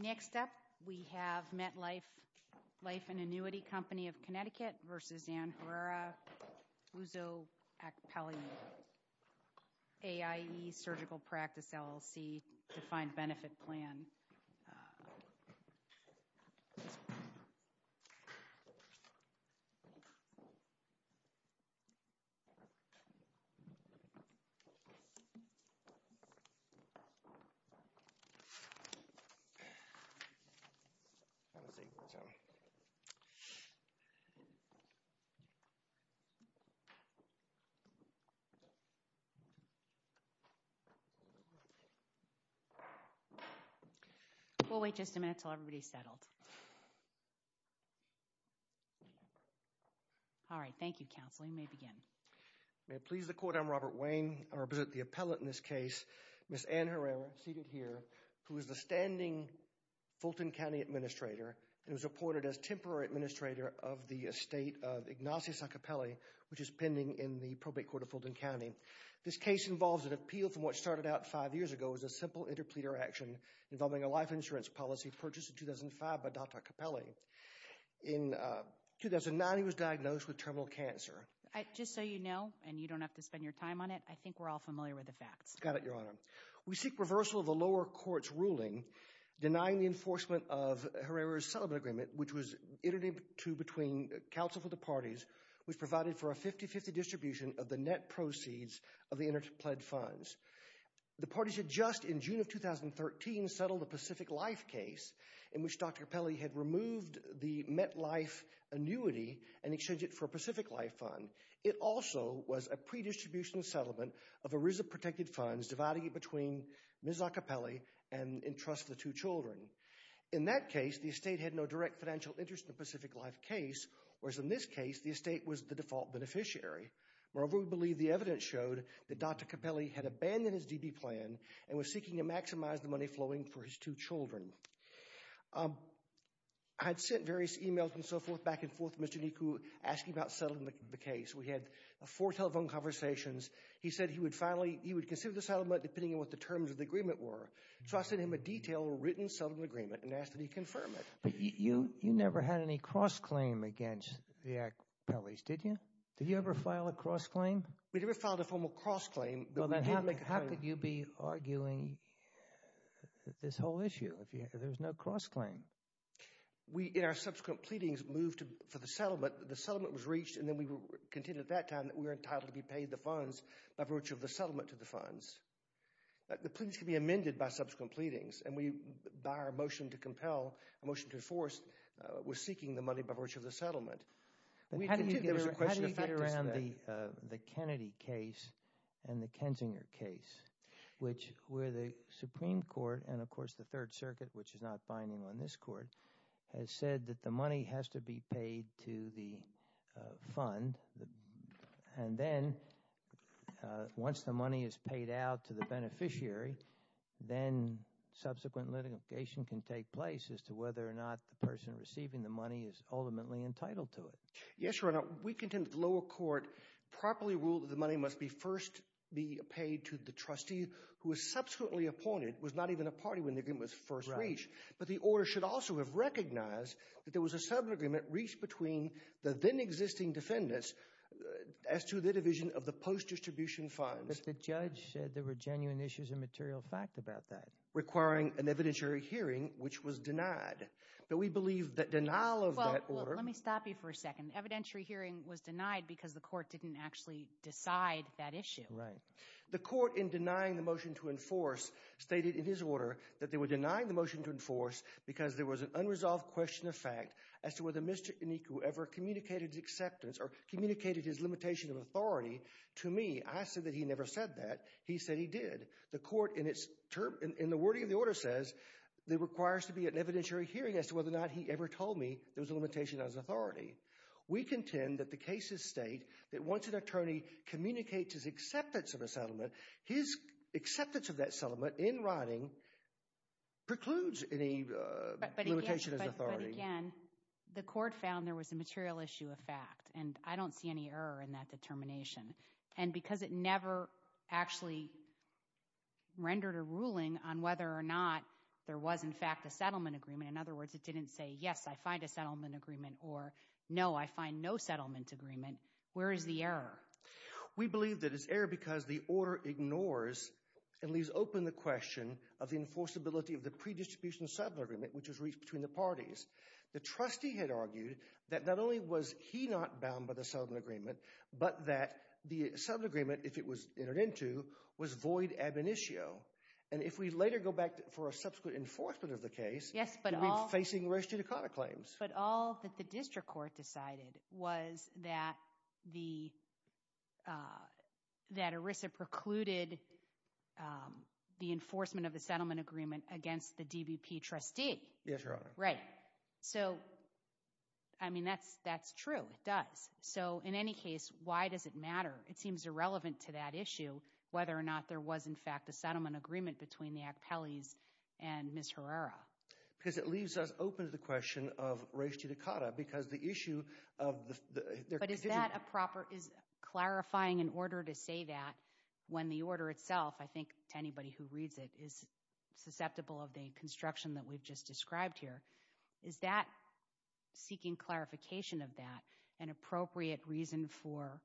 Next up, we have MetLife Life and Annuity Company of Connecticut v. Ann Herrera, Uzo Akpele, AIE Surgical Practice LLC Defined Benefit Plan Next up, we have MetLife Life and Annuity Company of Connecticut v. Ann Herrera, Uzo We'll wait just a minute until everybody's settled. All right, thank you, counsel. You may begin. May it please the Court, I'm Robert Wayne. I represent the appellate in this case, Ms. Ann Herrera, seated here, who is the standing Fulton County Administrator and was reported as Temporary Administrator of the Estate of Ignatius Akpele, which is pending in the Probate Court of Fulton County. This case involves an appeal from what a life insurance policy purchased in 2005 by Dr. Akpele. In 2009, he was diagnosed with terminal cancer. Just so you know, and you don't have to spend your time on it, I think we're all familiar with the facts. Got it, Your Honor. We seek reversal of the lower court's ruling denying the enforcement of Herrera's settlement agreement, which was iterative to between counsel for the parties, which provided for a 50-50 distribution of the net proceeds of the interpled funds. The parties had just, in June of 2013, settled a Pacific Life case in which Dr. Akpele had removed the MetLife annuity and exchanged it for a Pacific Life fund. It also was a pre-distribution settlement of ERISA protected funds, dividing it between Ms. Akpele and Entrust the Two Children. In that case, the estate had no direct financial interest in the Pacific Life case, whereas in this case, the estate was the default beneficiary. Moreover, we believe the evidence showed that Dr. Akpele had abandoned his DB plan and was seeking to maximize the money flowing for his two children. I'd sent various emails and so forth back and forth to Mr. Niku, asking about settling the case. We had four telephone conversations. He said he would finally, he would consider the settlement depending on what the terms of the agreement were. So I sent him a detailed, written settlement agreement and asked that he confirm it. But you never had any cross-claim against the Akpeles, did you? Did you ever file a cross-claim? We never filed a formal cross-claim. How could you be arguing this whole issue if there's no cross-claim? We, in our subsequent pleadings, moved for the settlement. The settlement was reached and then we continued at that time that we were entitled to be paid the funds by virtue of the settlement to the funds. The pleadings can be amended by subsequent pleadings and we, by our motion to compel, a motion to enforce, was seeking the money by virtue of the settlement. How do you get around the Kennedy case and the Kensinger case, which where the Supreme Court, and of course the Third Circuit, which is not binding on this Court, has said that the money has to be paid to the fund and then once the money is paid out to the beneficiary, then subsequent litigation can take place as to whether or not the person receiving the money is ultimately entitled to it. Yes, Your Honor, we contend that the lower court properly ruled that the money must be first be paid to the trustee who is subsequently appointed, was not even a party when the agreement was first reached, but the order should also have recognized that there was a sub-agreement reached between the then-existing defendants as to the division of the post-distribution funds. But the judge said there were genuine issues of material fact about that. Requiring an evidentiary hearing, which was denied, but we believe that denial of that order... Let me stop you for a second. Evidentiary hearing was denied because the Court didn't actually decide that issue. Right. The Court, in denying the motion to enforce, stated in his order that they were denying the motion to enforce because there was an unresolved question of fact as to whether Mr. Enique ever communicated his acceptance or communicated his limitation of authority to me. I said that he never said that. He said he did. The Court, in the wording of the order, says there requires to be an evidentiary hearing as to whether or not he ever told me there was a limitation of authority. We contend that the cases state that once an attorney communicates his acceptance of a settlement, his acceptance of that settlement in writing precludes any limitation of authority. But again, the Court found there was a material issue of fact, and I don't see any error in that determination. And because it never actually rendered a ruling on whether or not there was in fact a settlement agreement, in other words, it didn't say, yes, I find a settlement agreement, or no, I find no settlement agreement, where is the error? We believe that it's error because the order ignores and leaves open the question of the enforceability of the pre-distribution settlement agreement, which was reached between the parties. The trustee had argued that not only was he not bound by the settlement agreement, but that the settlement agreement, if it was entered into, was void ab initio. And if we But all that the district court decided was that ERISA precluded the enforcement of the settlement agreement against the DBP trustee. Yes, Your Honor. Right. So, I mean, that's true. It does. So in any case, why does it matter? It seems irrelevant to that issue, whether or not there was in fact a settlement agreement between the Akpeles and Ms. Herrera. Because it leaves us open to the question of Reischte Dikada, because the issue of their But is that a proper, is clarifying an order to say that when the order itself, I think to anybody who reads it, is susceptible of the construction that we've just described here, is that seeking clarification of that an appropriate reason for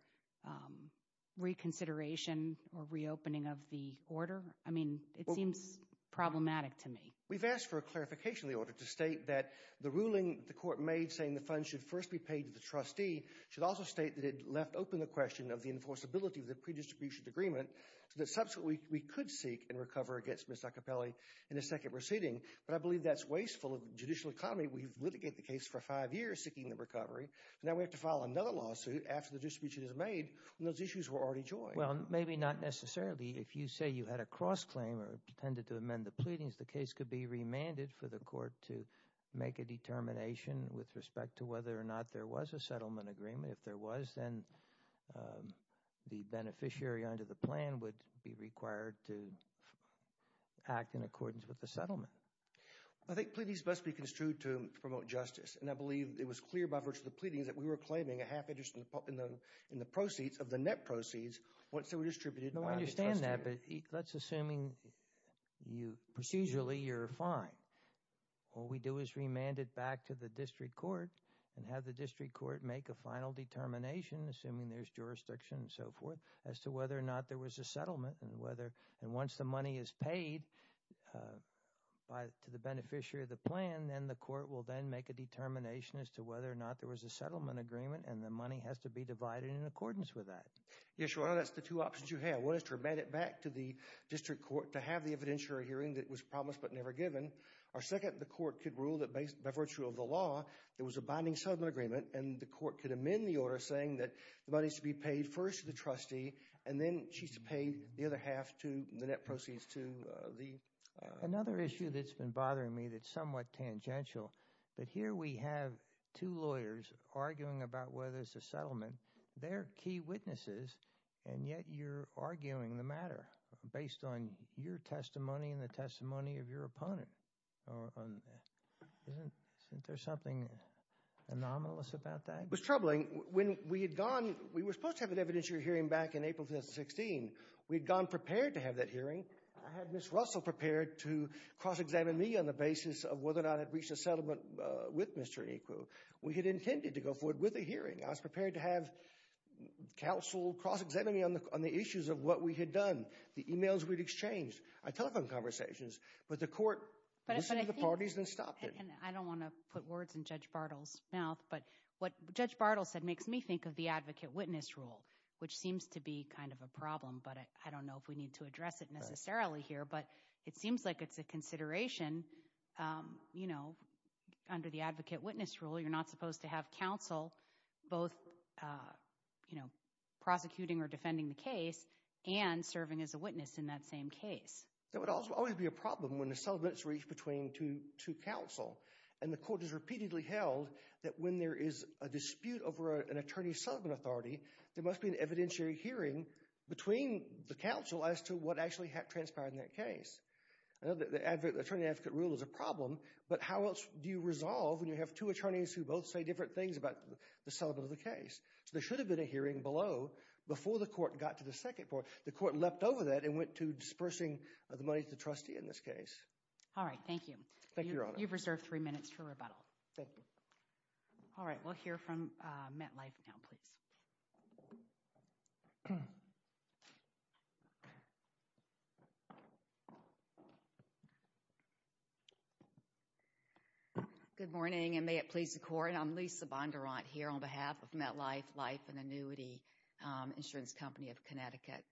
reconsideration or reopening of the order? I mean, it seems problematic to me. We've asked for a clarification of the order to state that the ruling the court made, saying the funds should first be paid to the trustee, should also state that it left open the question of the enforceability of the pre-distribution agreement, so that subsequently we could seek and recover against Ms. Akpele in a second proceeding. But I believe that's wasteful of the judicial economy. We've litigated the case for five years seeking the recovery, and now we have to file another lawsuit after the distribution is made, when those issues were already joined. Well, maybe not necessarily. If you say you had a cross-claim or intended to amend the agreement, would it be remanded for the court to make a determination with respect to whether or not there was a settlement agreement? If there was, then the beneficiary under the plan would be required to act in accordance with the settlement. I think pleadings must be construed to promote justice, and I believe it was clear by virtue of the pleadings that we were claiming a half interest in the proceeds of the net proceeds once they were distributed. I understand that, but let's assume procedurally you're fine. What we do is remand it back to the district court and have the district court make a final determination, assuming there's jurisdiction and so forth, as to whether or not there was a settlement. And once the money is paid to the beneficiary of the plan, then the court will then make a determination as to whether or not there was a settlement agreement, and the money has to be divided in accordance with that. Yes, Your Honor, that's the two options you have. One is to remand it back to the district court to have the evidentiary hearing that was promised but never given, or second, the court could rule that by virtue of the law there was a binding settlement agreement, and the court could amend the order saying that the money should be paid first to the trustee, and then she should pay the other half to the net proceeds to the... Another issue that's been bothering me that's somewhat tangential, but here we have two lawyers arguing about whether it's a settlement. They're key witnesses, and yet you're arguing the matter based on your testimony and the testimony of your opponent. Isn't there something anomalous about that? It was troubling. When we had gone, we were supposed to have an evidentiary hearing back in April 2016. We'd gone prepared to have that hearing. I had Ms. Russell prepared to cross-examine me on the basis of whether or not I had reached a settlement with Mr. Eco. We had intended to go forward with a hearing. I was prepared to have counsel cross-examine me on the issues of what we had done, the emails we'd exchanged, our telephone conversations, but the court listened to the parties and stopped it. I don't want to put words in Judge Bartle's mouth, but what Judge Bartle said makes me think of the advocate-witness rule, which seems to be kind of a problem, but I don't know if we need to address it necessarily here, but it seems like it's a consideration. Under the advocate-witness rule, you're not supposed to have counsel both prosecuting or defending the case and serving as a witness in that same case. There would also always be a problem when the settlement's reached to counsel, and the court has repeatedly held that when there is a dispute over an attorney-settlement authority, there must be an evidentiary hearing between the counsel as to what actually transpired in that case. I know the attorney-advocate rule is a problem, but how else do you resolve when you have two attorneys who both say different things about the settlement of the case? There should have been a hearing below before the court got to the second part. The court leapt over that and went to dispersing the money to the trustee in this case. All right, thank you. Thank you, Your Honor. You've reserved three minutes for rebuttal. Thank you. All right, we'll hear from MetLife now, please. Good morning, and may it please the Court, I'm Lisa Bondurant here on behalf of MetLife Life and Annuity Insurance Company of Connecticut.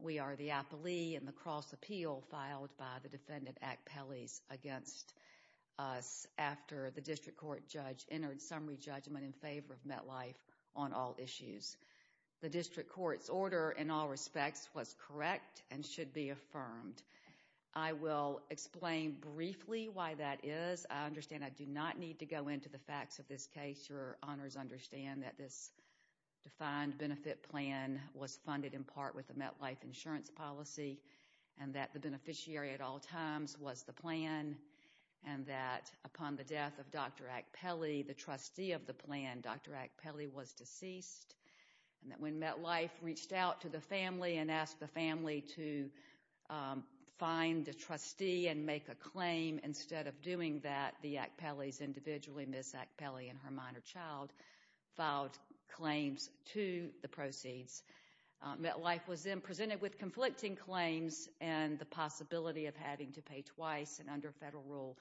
We are the appellee in the cross-appeal filed by the defendant, Act Pelles, against us after the district court judge entered summary judgment in favor of MetLife on all issues. The district court's order, in all respects, was correct and should be affirmed. I will explain briefly why that is. I understand I do not need to go into the facts of this case. Your Honors understand that this defined benefit plan was funded in part with the MetLife insurance policy and that the beneficiary at all times was the plan and that upon the death of Dr. Act Pelle, the trustee of the plan, Dr. Act Pelle was deceased and that when MetLife reached out to the family and asked the family to find the trustee and make a claim, instead of doing that, the Act Pelles individually, Ms. Act Pelle and her minor child, filed claims to the proceeds. MetLife was then presented with conflicting claims and the federal rule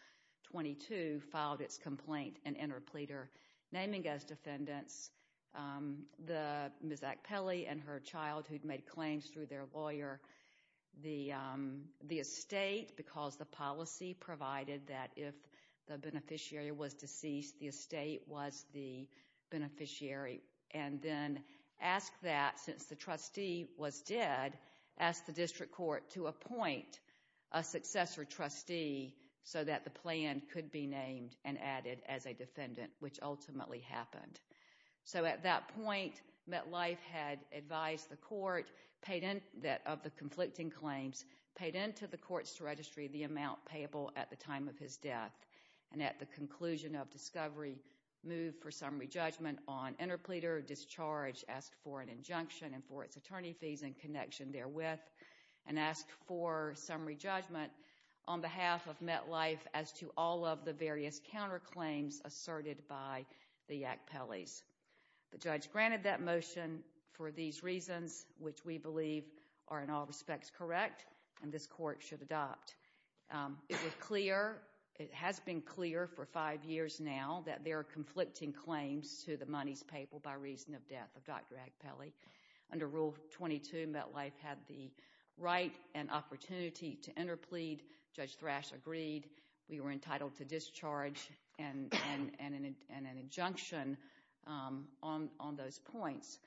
22 filed its complaint and entered pleader naming as defendants, Ms. Act Pelle and her child who'd made claims through their lawyer, the estate because the policy provided that if the beneficiary was deceased, the estate was the beneficiary and then asked that since the trustee was dead, asked the district court to appoint a successor trustee so that the plan could be named and added as a defendant, which ultimately happened. So at that point, MetLife had advised the court that of the conflicting claims, paid into the courts to register the amount payable at the time of his death and at the conclusion of discovery, moved for summary judgment on behalf of MetLife as to all of the various counterclaims asserted by the Act Pelles. The judge granted that motion for these reasons, which we believe are in all respects correct and this court should adopt. It was clear, it has been clear for five years now that there are conflicting claims to the monies payable by reason of death of Dr. Act Pelle. Under rule 22, MetLife had the right and opportunity to enter plead. Judge Thrash agreed. We were entitled to discharge and an injunction on those points.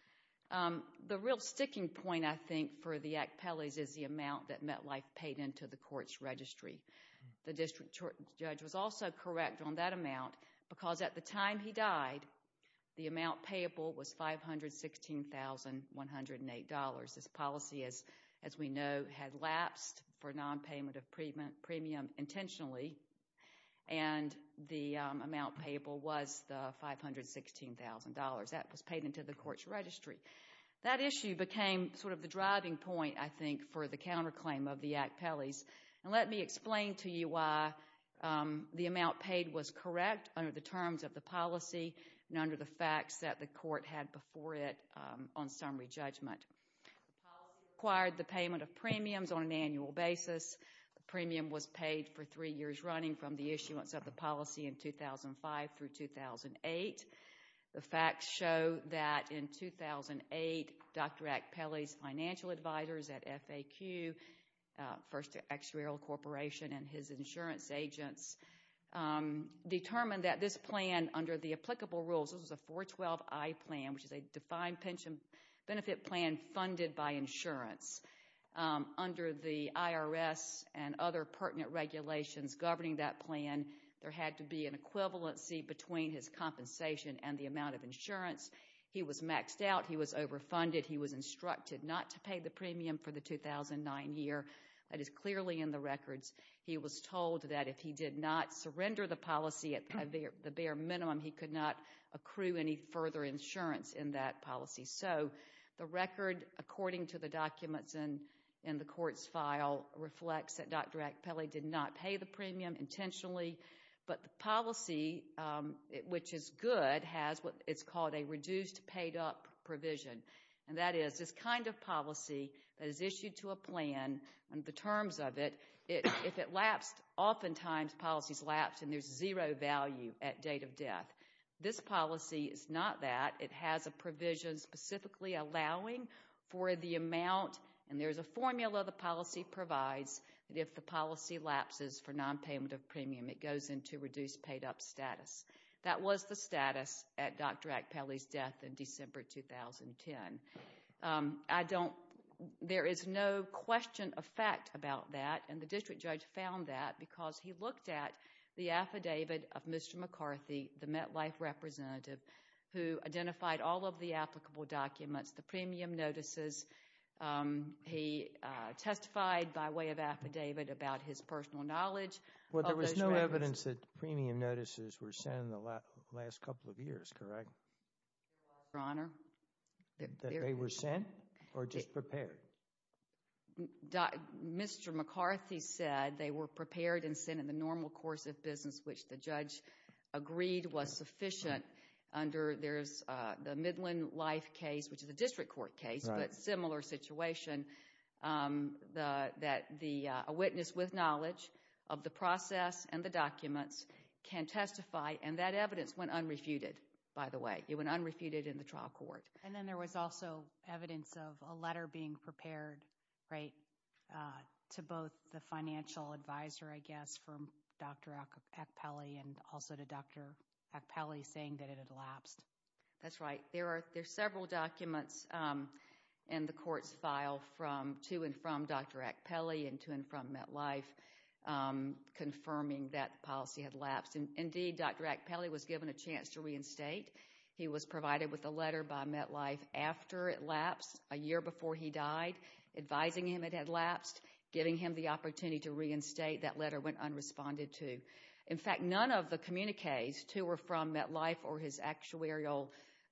The real sticking point, I think, for the Act Pelles is the amount that MetLife paid into the court's registry. The district judge was also correct on that amount because at the time he died, the amount payable was $516,108. This policy, as we know, had lapsed for non-payment of premium intentionally and the amount payable was the $516,000 that was paid into the court's registry. That issue became sort of the driving point, I think, for the under the terms of the policy and under the facts that the court had before it on summary judgment. The policy required the payment of premiums on an annual basis. The premium was paid for three years running from the issuance of the policy in 2005 through 2008. The facts show that in 2008, Dr. Act Pelle's financial advisors at FAQ, First Actuarial Corporation, and his insurance agents determined that this plan, under the applicable rules, this was a 412i plan, which is a defined pension benefit plan funded by insurance. Under the IRS and other pertinent regulations governing that plan, there had to be an equivalency between his compensation and the amount of insurance. He was maxed out. He was overfunded. He was instructed not to pay the premium for the 2009 year. That is clearly in the records. He was told that if he did not surrender the policy at the bare minimum, he could not accrue any further insurance in that policy. So, the record, according to the documents in the court's file, reflects that Dr. Act Pelle did not pay the premium intentionally, but the policy, which is good, has what is called a reduced paid up provision, and that is this kind of policy that is issued to a plan, and the terms of it, if it lapsed, oftentimes policies lapse and there's zero value at date of death. This policy is not that. It has a provision specifically allowing for the amount, and there's a formula the policy provides that if the policy lapses for nonpayment of premium, it goes into reduced paid up status. That was the status at Dr. Act Pelle's death in December 2010. There is no question of fact about that, and the district judge found that because he looked at the affidavit of Mr. McCarthy, the MetLife representative, who identified all of the applicable documents, the premium notices. He testified by way of affidavit about his personal knowledge. Well, there was no evidence that premium notices were sent in the last couple of years, correct? Your Honor. That they were sent or just prepared? Mr. McCarthy said they were prepared and sent in the normal course of business, which the judge agreed was sufficient under, there's the Midland Life case, which is a district court case, but similar situation that a witness with knowledge of the process and the documents can testify, and that evidence went unrefuted, by the way. It went unrefuted in the trial court. And then there was also evidence of a letter being prepared, right, to both the financial advisor, I guess, from Dr. Act Pelle and also to Dr. Act Pelle saying that it had elapsed. That's right. There are several documents in the court's file from to and from Dr. Act Pelle and to and from MetLife confirming that policy had elapsed. Indeed, Dr. Act Pelle was given a chance to reinstate. He was provided with a letter by MetLife after it elapsed, a year before he died, advising him it had elapsed, giving him the opportunity to reinstate. That letter went to both the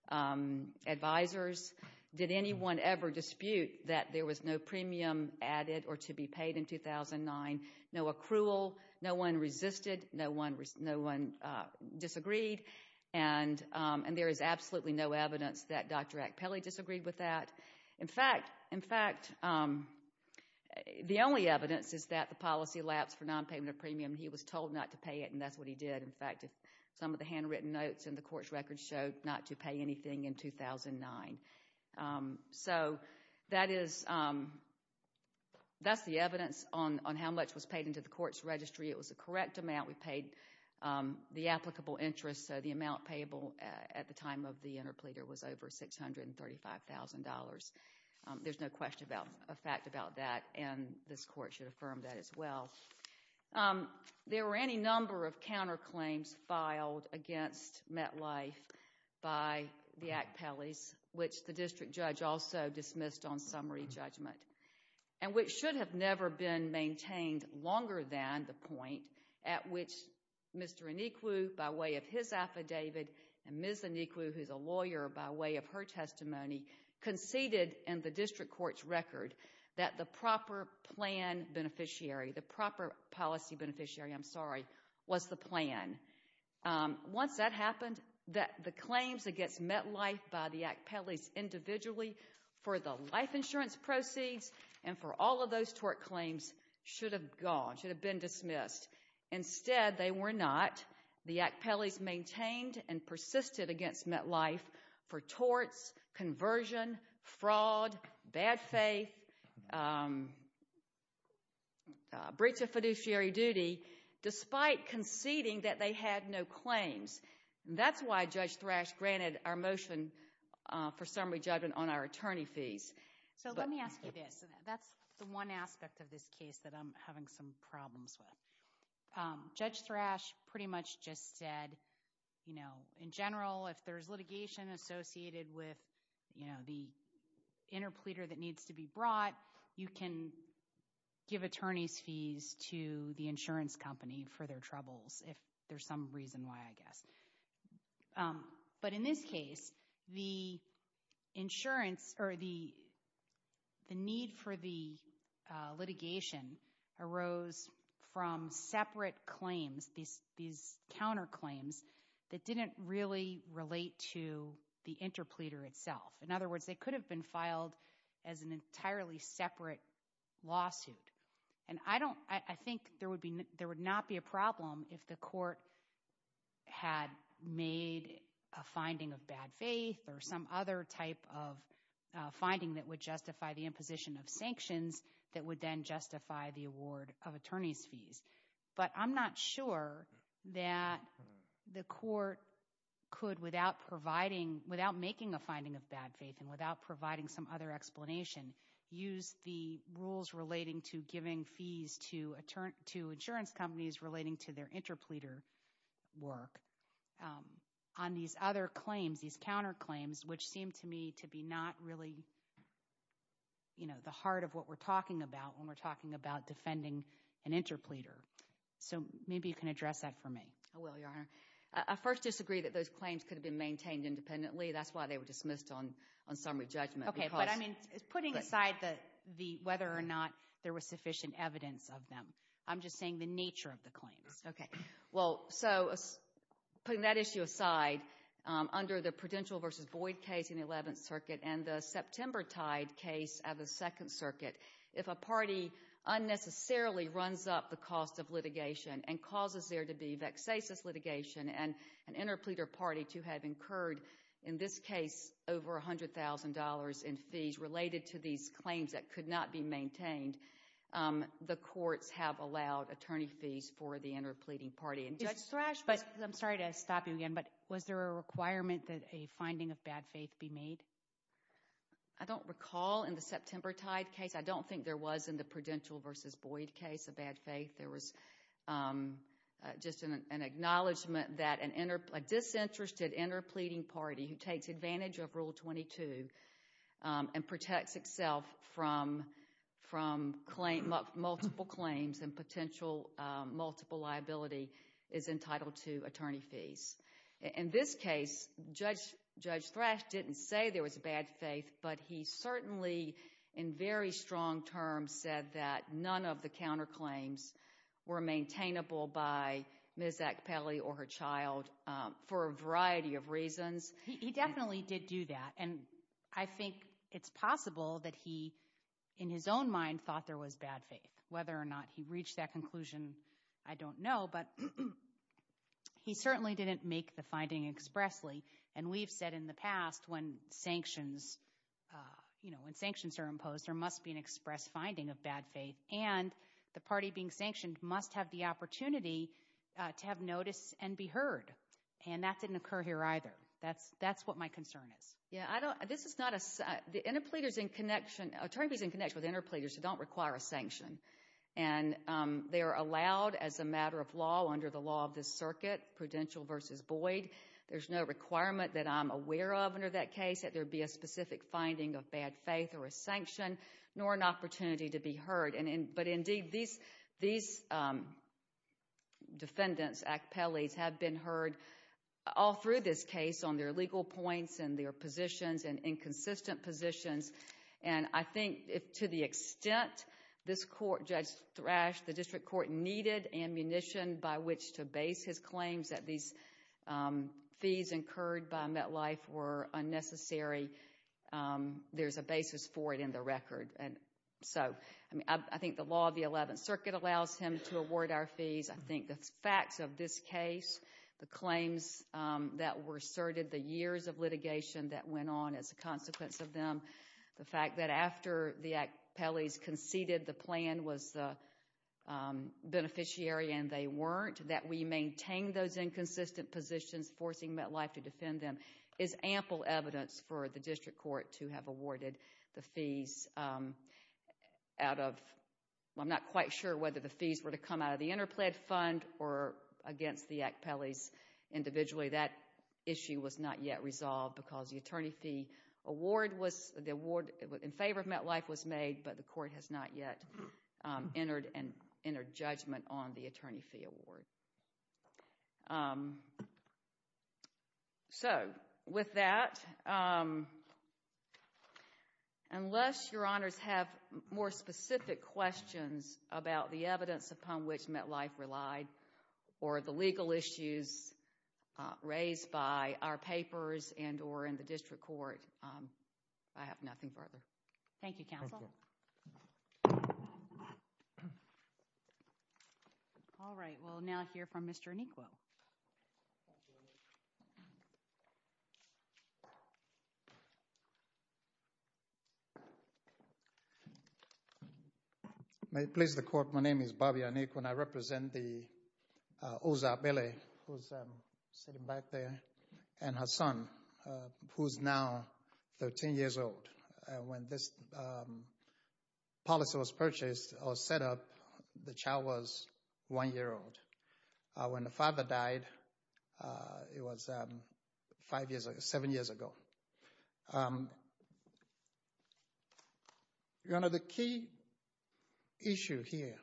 financial advisors. Did anyone ever dispute that there was no premium added or to be paid in 2009? No accrual. No one resisted. No one disagreed. And there is absolutely no evidence that Dr. Act Pelle disagreed with that. In fact, the only evidence is that the policy elapsed for non-payment of premium. He was told not to pay it, and that's what he did. In fact, some of the evidence is that he was told not to pay anything in 2009. So that's the evidence on how much was paid into the court's registry. It was the correct amount. We paid the applicable interest, so the amount payable at the time of the interpleader was over $635,000. There's no question about, a fact about that, and this court should affirm that as well. There were any number of counter the Act Pelle's, which the district judge also dismissed on summary judgment, and which should have never been maintained longer than the point at which Mr. Iniklu, by way of his affidavit, and Ms. Iniklu, who's a lawyer, by way of her testimony, conceded in the district court's record that the proper plan beneficiary, the proper policy against MetLife by the Act Pelle's individually for the life insurance proceeds and for all of those tort claims should have gone, should have been dismissed. Instead, they were not. The Act Pelle's maintained and persisted against MetLife for torts, conversion, fraud, bad faith, breach of fiduciary duty, despite conceding that they had no claims. That's why Judge Thrash granted our motion for summary judgment on our attorney fees. So let me ask you this. That's the one aspect of this case that I'm having some problems with. Judge Thrash pretty much just said, you know, in general, if there's litigation associated with, you know, the interpleader that needs to be brought, you can give attorneys fees to the insurance company for their troubles, if there's some reason why, I guess. But in this case, the insurance or the need for the litigation arose from separate claims, these counterclaims that didn't really relate to the interpleader itself. In other words, they could have been filed as an entirely separate lawsuit. And I don't, I think there would be, there would not be a problem if the court had made a finding of bad faith or some other type of finding that would justify the imposition of sanctions that would then justify the award of attorney's fees. But I'm not sure that the court could, without providing, without making a finding of bad faith and without providing some other explanation, use the rules relating to fees to insurance companies relating to their interpleader work on these other claims, these counterclaims, which seem to me to be not really, you know, the heart of what we're talking about when we're talking about defending an interpleader. So maybe you can address that for me. I will, Your Honor. I first disagree that those claims could have been maintained independently. That's why they were dismissed on summary judgment. But I mean, putting aside whether or not there was sufficient evidence of them, I'm just saying the nature of the claims. Okay. Well, so putting that issue aside, under the Prudential v. Boyd case in the 11th Circuit and the September Tide case of the 2nd Circuit, if a party unnecessarily runs up the cost of litigation and causes there to be vexatious litigation and an interpleader party to have incurred, in this case, over $100,000 in fees related to these claims that could not be maintained, the courts have allowed attorney fees for the interpleading party. And Judge Thrash, I'm sorry to stop you again, but was there a requirement that a finding of bad faith be made? I don't recall in the September Tide case. I don't think there was in the Prudential v. Boyd case a bad faith. There was just an acknowledgement that a disinterested interpleading party who takes advantage of Rule 22 and protects itself from multiple claims and potential multiple liability is entitled to attorney fees. In this case, Judge Thrash didn't say there was a bad faith, but he certainly, in very strong terms, said that none of the counterclaims were maintainable by Ms. Akpeli or her child for a variety of reasons. He definitely did do that, and I think it's possible that he, in his own mind, thought there was bad faith. Whether or not he reached that conclusion, I don't know, but he certainly didn't make the finding expressly. And we've said in the There must be an express finding of bad faith, and the party being sanctioned must have the opportunity to have notice and be heard, and that didn't occur here either. That's what my concern is. Attorney fees are in connection with interpleaders who don't require a sanction, and they are allowed as a matter of law under the law of this circuit, Prudential v. Boyd. There's no requirement that I'm aware of under that case that there be a specific finding of bad faith or a sanction, nor an opportunity to be heard. But indeed, these defendants, Akpeli's, have been heard all through this case on their legal points and their positions and inconsistent positions, and I think to the extent this court, Judge Thrash, the district court needed ammunition by which to base his claims that these fees incurred by MetLife were unnecessary, there's a basis for it in the record. And so, I think the law of the 11th Circuit allows him to award our fees. I think the facts of this case, the claims that were asserted, the years of litigation that went on as a consequence of them, the fact that after the Akpeli's conceded the plan was beneficiary and they weren't, that we maintained those inconsistent positions, forcing MetLife to defend them, is ample evidence for the district court to have awarded the fees out of, I'm not quite sure whether the fees were to come out of the interpled fund or against the Akpeli's individually. That issue was not yet resolved because the attorney fee award was, the award in favor of MetLife was made, but the court has not yet entered judgment on the attorney fee award. So, with that, unless your honors have more specific questions about the evidence upon which MetLife relied or the legal issues raised by our papers and or in the district court, I have nothing further. Thank you, counsel. All right, we'll now hear from Mr. Anikwo. Thank you. May it please the court, my name is Bobby Anikwo and I represent the Oza Akpeli, who's sitting back there, and her son, who's now 13 years old. When this policy was purchased or set up, the child was one year old. When the father died, it was five years, seven years ago. Your honor, the key issue here,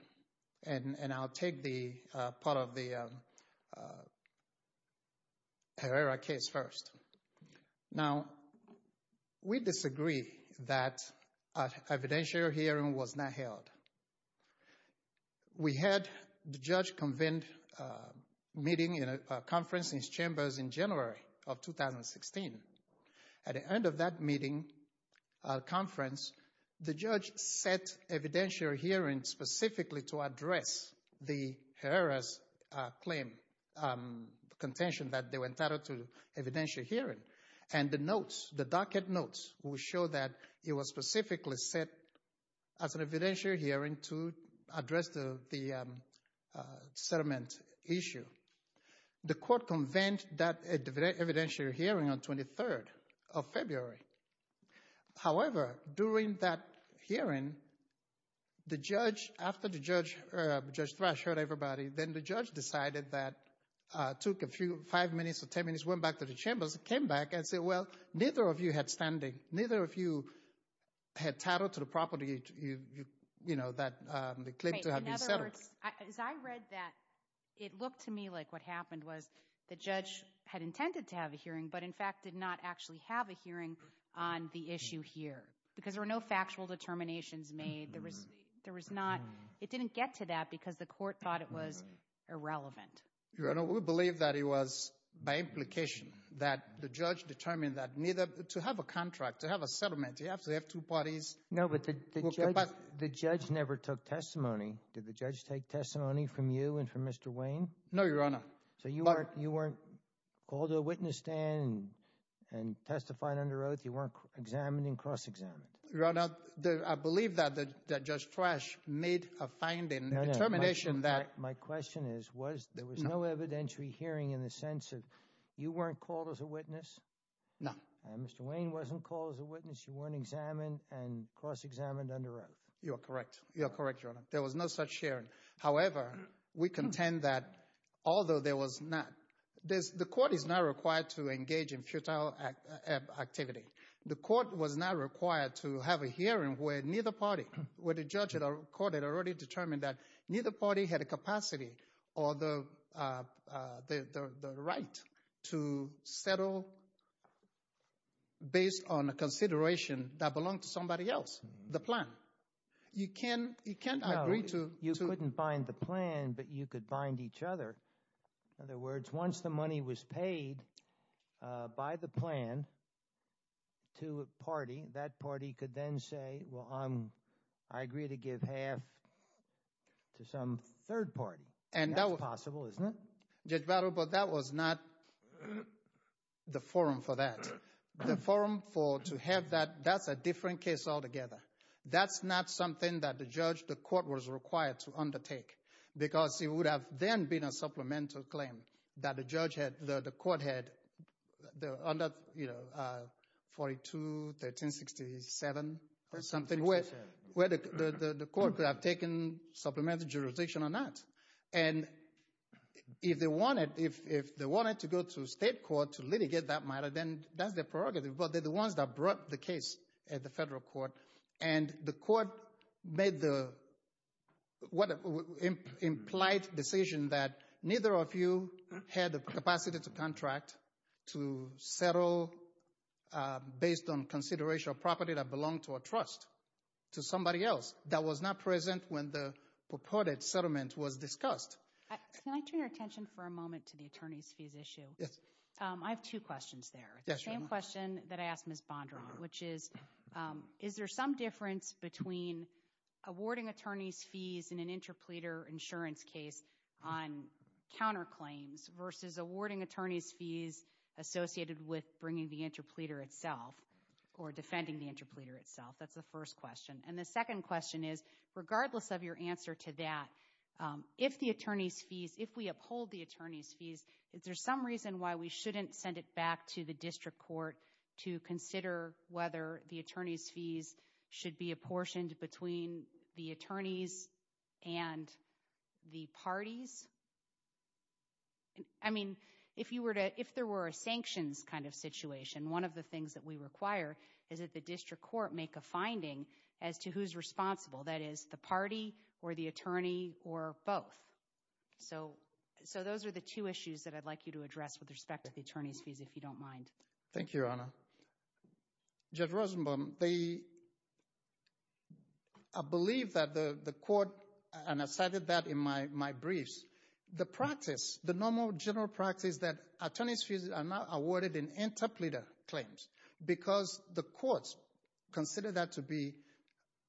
and I'll take the part of the Herrera case first. Now, we disagree that an evidentiary hearing was not held. We had the judge convened a meeting in a conference in his chambers in January of 2016. At the end of that meeting, conference, the judge set evidentiary hearings specifically to address the Herrera's claim, the contention that they were entitled to evidentiary hearing. And the notes, the docket notes, will show that it was specifically set as an evidentiary hearing to address the settlement issue. The court convened that evidentiary hearing on 23rd of February. However, during that hearing, the judge, after the judge, Judge Thrash heard everybody, then the judge decided that, took a few, five minutes or ten minutes, went back to the chambers, came back and said, well, neither of you had standing, neither of you had title to the property, you know, that the claim to have been settled. In other words, as I read that, it looked to me like what happened was the judge had on the issue here because there were no factual determinations made. There was not, it didn't get to that because the court thought it was irrelevant. Your Honor, we believe that it was by implication that the judge determined that neither, to have a contract, to have a settlement, you have to have two parties. No, but the judge never took testimony. Did the judge take testimony from you and from Mr. Wayne? No, Your Honor. So you weren't called to a witness stand and testified under oath, you weren't examined and cross-examined? Your Honor, I believe that Judge Thrash made a finding, a determination that... My question is, was there was no evidentiary hearing in the sense of, you weren't called as a witness? No. Mr. Wayne wasn't called as a witness, you weren't examined and cross-examined under oath? You are correct. You are correct, Your Honor. There was no such hearing. However, we contend that although there was not, the court is not required to engage in futile activity. The court was not required to have a hearing where neither party, where the judge had already determined that neither party had a capacity or the right to settle based on a consideration that belonged to somebody else, the plan. You can't agree to... You can't bind the plan, but you could bind each other. In other words, once the money was paid by the plan to a party, that party could then say, well, I agree to give half to some third party. And that was possible, isn't it? Judge Barrow, but that was not the forum for that. The forum for to have that, that's a different case altogether. That's not something that the judge, the court was required to undertake because it would have then been a supplemental claim that the judge had, the court had under, you know, 42, 1367 or something where the court could have taken supplemental jurisdiction on that. And if they wanted to go to state court to litigate that matter, then that's their prerogative. But they're the ones that brought the case at the federal court. And the court made the implied decision that neither of you had the capacity to contract, to settle based on consideration of property that belonged to a trust, to somebody else that was not present when the purported settlement was discussed. Can I turn your attention for a moment to the attorney's fees issue? I have two questions there. Same question that I asked Ms. Bondron, which is, is there some difference between awarding attorney's fees in an interpleader insurance case on counterclaims versus awarding attorney's fees associated with bringing the interpleader itself or defending the interpleader itself? That's the first question. And the second question is, regardless of your answer to that, is there some reason why we shouldn't send it back to the district court to consider whether the attorney's fees should be apportioned between the attorneys and the parties? I mean, if you were to, if there were a sanctions kind of situation, one of the things that we require is that the district court make a finding as to who's responsible, that is the party or the attorney or both. So those are the two issues that I'd like you to address with respect to the attorney's fees, if you don't mind. Thank you, Your Honor. Judge Rosenbaum, I believe that the court, and I cited that in my briefs, the practice, the normal general practice that attorney's fees are not awarded in interpleader claims because the courts consider that to be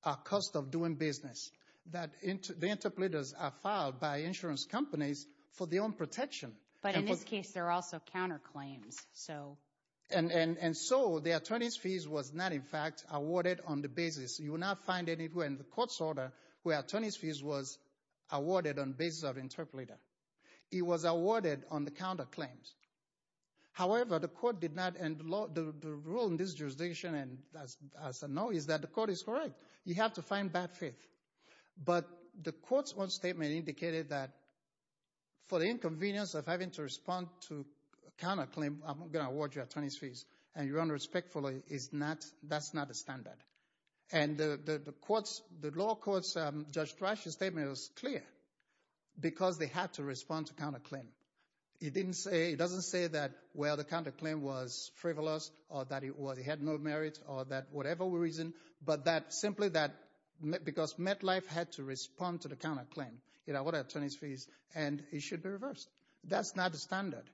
a cost of doing business, that the interpleaders are filed by insurance companies for their own protection. But in this case, there are also counterclaims, so. And so the attorney's fees was not, in fact, awarded on the basis, you will not find anywhere in the court's order where attorney's fees was awarded on basis of interpleader. It was awarded on the counterclaims. However, the court did not, and the rule in this jurisdiction, and as I know, is that the court is correct. You have to find bad faith. But the court's one statement indicated that for the inconvenience of having to respond to counterclaim, I'm going to award you attorney's fees, and Your Honor, respectfully, is not, that's not the standard. And the court's, the law court's, Judge Thrash's statement was clear because they had to respond to counterclaim. It didn't say, it doesn't say that, well, the counterclaim was frivolous or that it was, it had no merit or that whatever reason, but that simply that, because MetLife had to respond to the counterclaim. It awarded attorney's fees, and it should be reversed. That's not the standard.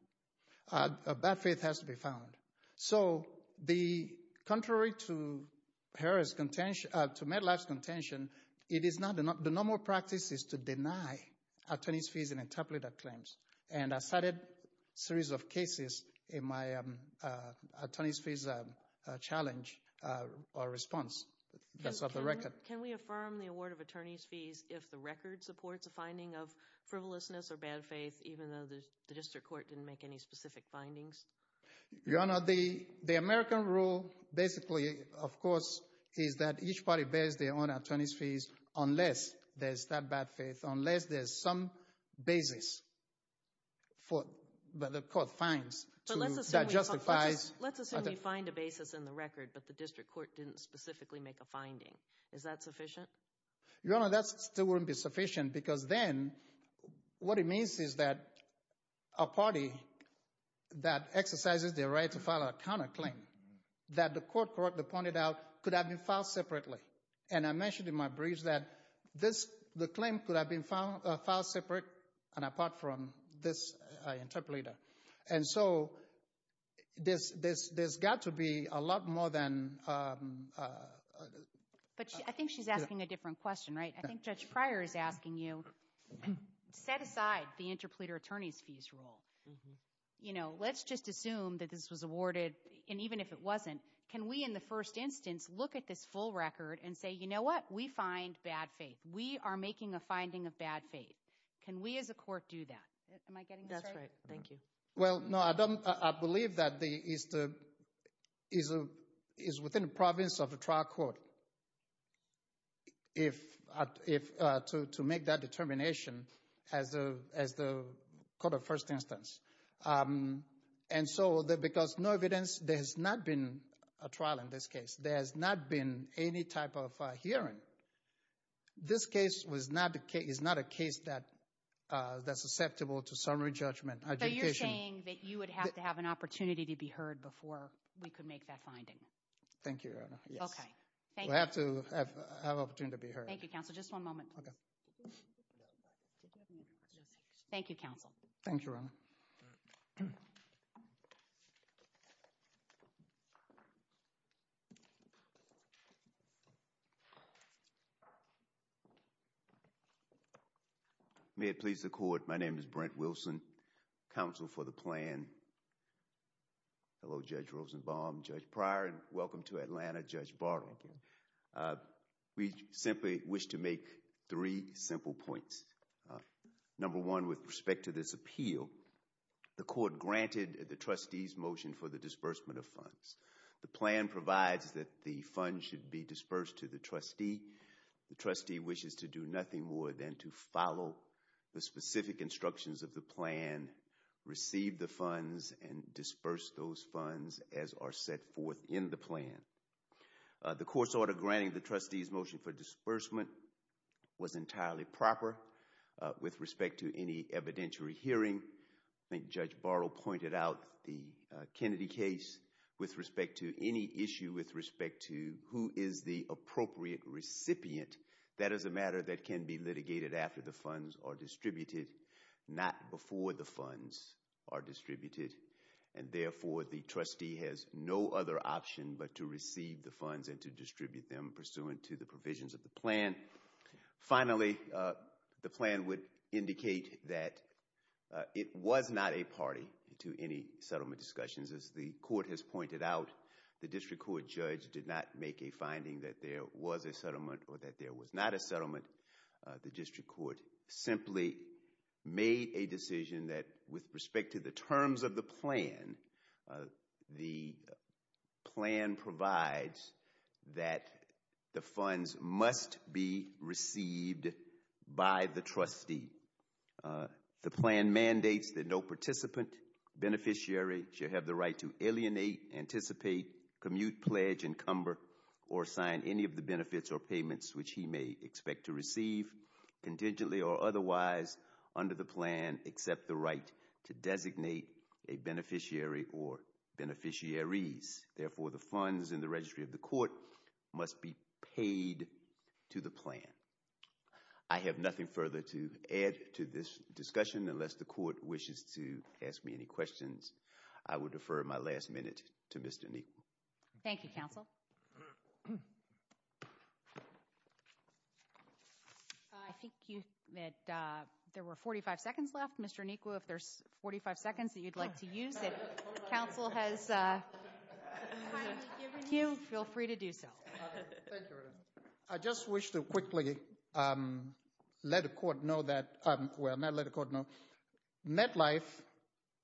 Bad faith has to be found. So the, contrary to Harris' contention, to MetLife's contention, it is not, the normal practice is to deny attorney's fees and interpleader claims. And I cited a series of cases in my attorney's fees challenge, or response, that's off the record. Can we affirm the award of attorney's fees if the record supports a finding of frivolousness or bad faith, even though the district court didn't make any specific findings? Your Honor, the American rule, basically, of course, is that each party bears their own attorney's fees unless there's that bad faith, unless there's some basis for the court finds that justifies. Let's assume you find a basis in the record, but the district court didn't specifically make a finding. Is that sufficient? Your Honor, that still wouldn't be sufficient because then, what it means is that a party that exercises their right to file a counterclaim, that the court correctly pointed out, could have been filed separately. And I mentioned in my briefs that the claim could have been filed separate and apart from this interpleader. And so, there's got to be a lot more than... But I think she's asking a different question, right? I think Judge Pryor is asking you, set aside the interpleader attorney's fees rule. You know, let's just assume that this was awarded, and even if it wasn't, can we, in the first instance, look at this full record and say, you know what? We find bad faith. We are making a finding of bad faith. Can we, as a court, do that? Am I getting this right? Thank you. Well, no, I believe that is within the province of the trial court to make that determination as the court of first instance. And so, because no evidence, there has not been a trial in this case. There has not been any type of hearing. This case is not a case that's susceptible to summary judgment. So, you're saying that you would have to have an opportunity to be heard before we could make that finding? Thank you, Your Honor. Okay. We have to have an opportunity to be heard. Thank you, counsel. Just one moment, please. Thank you, counsel. Thank you, Your Honor. All right. May it please the court. My name is Brent Wilson, counsel for the plan. Hello, Judge Rosenbaum, Judge Pryor, and welcome to Atlanta, Judge Bartlett. We simply wish to make three simple points. Number one, with respect to this appeal, the court granted the trustee's motion for the disbursement of funds. The plan provides that the funds should be dispersed to the trustee. The trustee wishes to do nothing more than to follow the specific instructions of the plan, receive the funds, and disperse those funds as are set forth in the plan. The court's order granting the trustee's motion for disbursement was entirely proper with respect to any evidentiary hearing. I think Judge Bartlett pointed out the Kennedy case. With respect to any issue with respect to who is the appropriate recipient, that is a matter that can be litigated after the funds are distributed, not before the funds are distributed. And therefore, the trustee has no other option but to receive the funds and to distribute them pursuant to the provisions of the plan. Finally, the plan would indicate that it was not a party to any settlement discussions. As the court has pointed out, the district court judge did not make a finding that there was a settlement or that there was not a settlement. The district court simply made a decision that with respect to the terms of the plan, the plan provides that the funds must be received by the trustee. The plan mandates that no participant, beneficiary, shall have the right to alienate, anticipate, commute, pledge, encumber, or sign any of the benefits or payments which he may expect to receive contingently or otherwise under the plan except the right to designate a beneficiary or beneficiaries. Therefore, the funds in the registry of the court must be paid to the plan. I have nothing further to add to this discussion unless the court wishes to ask me any questions. I would defer my last minute to Mr. Neal. Thank you, counsel. I think that there were 45 seconds left. Mr. Niku, if there's 45 seconds that you'd like to use, if counsel has a few, feel free to do so. I just wish to quickly let the court know that, well, not let the court know, MetLife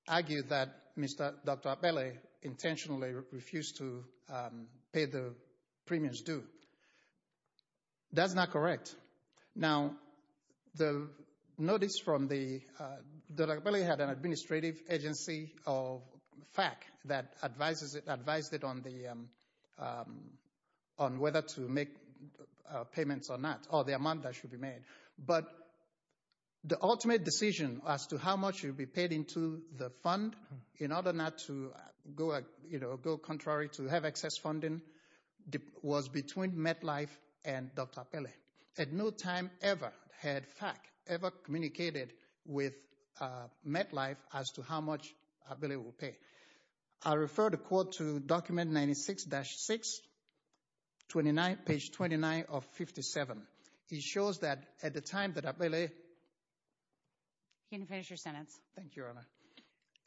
argued that Mr. Dr. Abele intentionally refused to pay the premiums due. That's not correct. Now, the notice from the, Dr. Abele had an administrative agency of FAC that advised it on whether to make payments or not, or the amount that should be made. But the ultimate decision as to how much should be paid into the fund in order not to go contrary to have excess funding was between MetLife and Dr. Abele. At no time ever had FAC ever communicated with MetLife as to how much Abele would pay. I refer the court to document 96-6, page 29 of 57. It shows that at the time that Abele... You can finish your sentence. Thank you, Your Honor.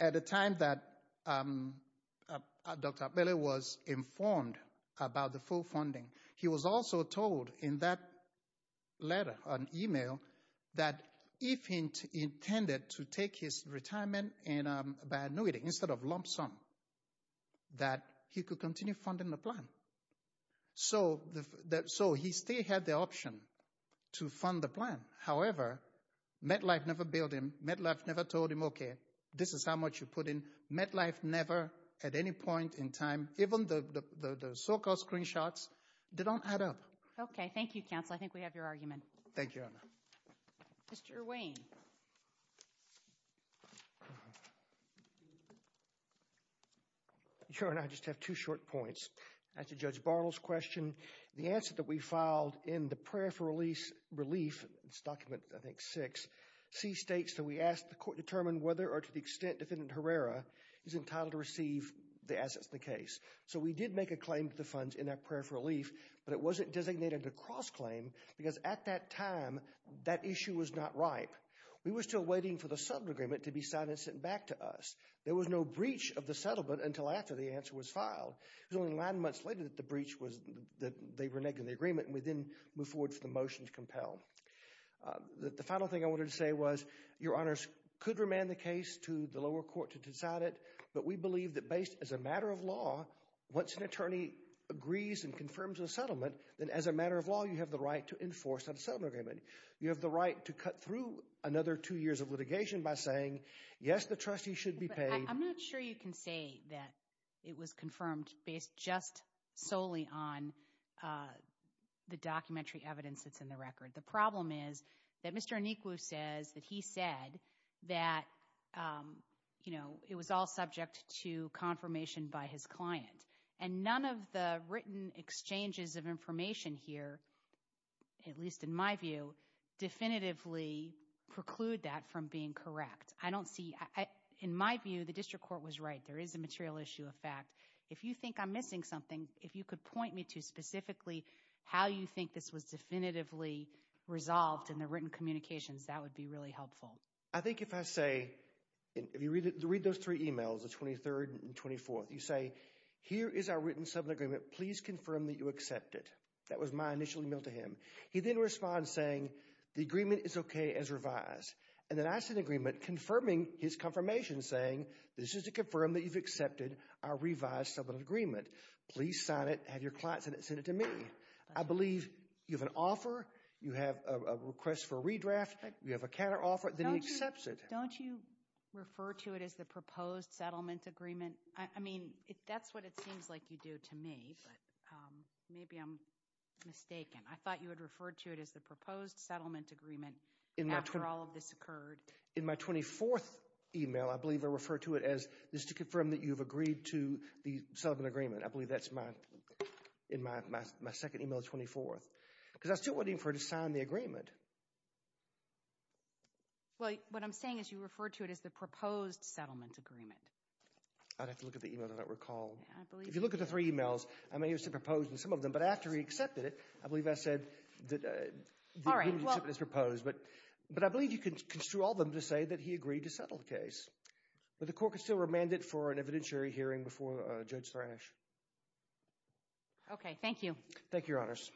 At the time that Dr. Abele was informed about the full funding, he was also told in that letter, an email, that if he intended to take his retirement by annuity instead of lump sum, that he could continue funding the plan. So he still had the option to fund the plan. However, MetLife never billed him. MetLife never told him, okay, this is how much you put in. MetLife never, at any point in time, even the so-called screenshots, they don't add up. Okay. Thank you, counsel. I think we have your argument. Thank you, Your Honor. Mr. Wayne. Your Honor, I just have two short points. As to Judge Bartle's question, the answer that we filed in the prayer for relief, it's document, I think, 6, C states that we asked the court to determine whether, or to the extent, Defendant Herrera is entitled to receive the assets of the case. So we did make a claim to the funds in that prayer for relief, but it wasn't designated a cross-claim because at that time, that issue was not ripe. We were still waiting for the settlement agreement to be signed and sent back to us. It was only nine months later that the breach was, that they were negating the agreement, and we then moved forward for the motion to compel. The final thing I wanted to say was, Your Honors, could remand the case to the lower court to decide it, but we believe that based, as a matter of law, once an attorney agrees and confirms a settlement, then as a matter of law, you have the right to enforce that settlement agreement. You have the right to cut through another two years of litigation by saying, yes, the trustee should be paid. I'm not sure you can say that it was confirmed based just solely on the documentary evidence that's in the record. The problem is that Mr. Onikwu says that he said that, you know, it was all subject to confirmation by his client, and none of the written exchanges of information here, at least in my view, definitively preclude that from being correct. I don't see, in my view, the district court was right. There is a material issue of fact. If you think I'm missing something, if you could point me to specifically how you think this was definitively resolved in the written communications, that would be really helpful. I think if I say, if you read those three emails, the 23rd and 24th, you say, here is our written settlement agreement, please confirm that you accept it. That was my initial email to him. He then responds saying, the agreement is okay as revised, and then I see the agreement confirming his confirmation saying, this is to confirm that you've accepted our revised settlement agreement. Please sign it, have your client send it to me. I believe you have an offer, you have a request for a redraft, you have a counteroffer, then he accepts it. Don't you refer to it as the proposed settlement agreement? I mean, that's what it seems like you do to me, but maybe I'm mistaken. I thought you had referred to it as the proposed settlement agreement after all of this occurred. In my 24th email, I believe I referred to it as, this is to confirm that you've agreed to the settlement agreement. I believe that's my, in my second email, 24th, because I was still waiting for him to sign the agreement. Well, what I'm saying is you referred to it as the proposed settlement agreement. I'd have to look at the email that I recall. If you look at the three emails, I mean, he was proposing some of them, but after he accepted it, I believe I said that the agreement is proposed, but I believe you can construe all of them to say that he agreed to settle the case, but the court could still remand it for an evidentiary hearing before Judge Vranish. Okay. Thank you. Thank you, Your Honors.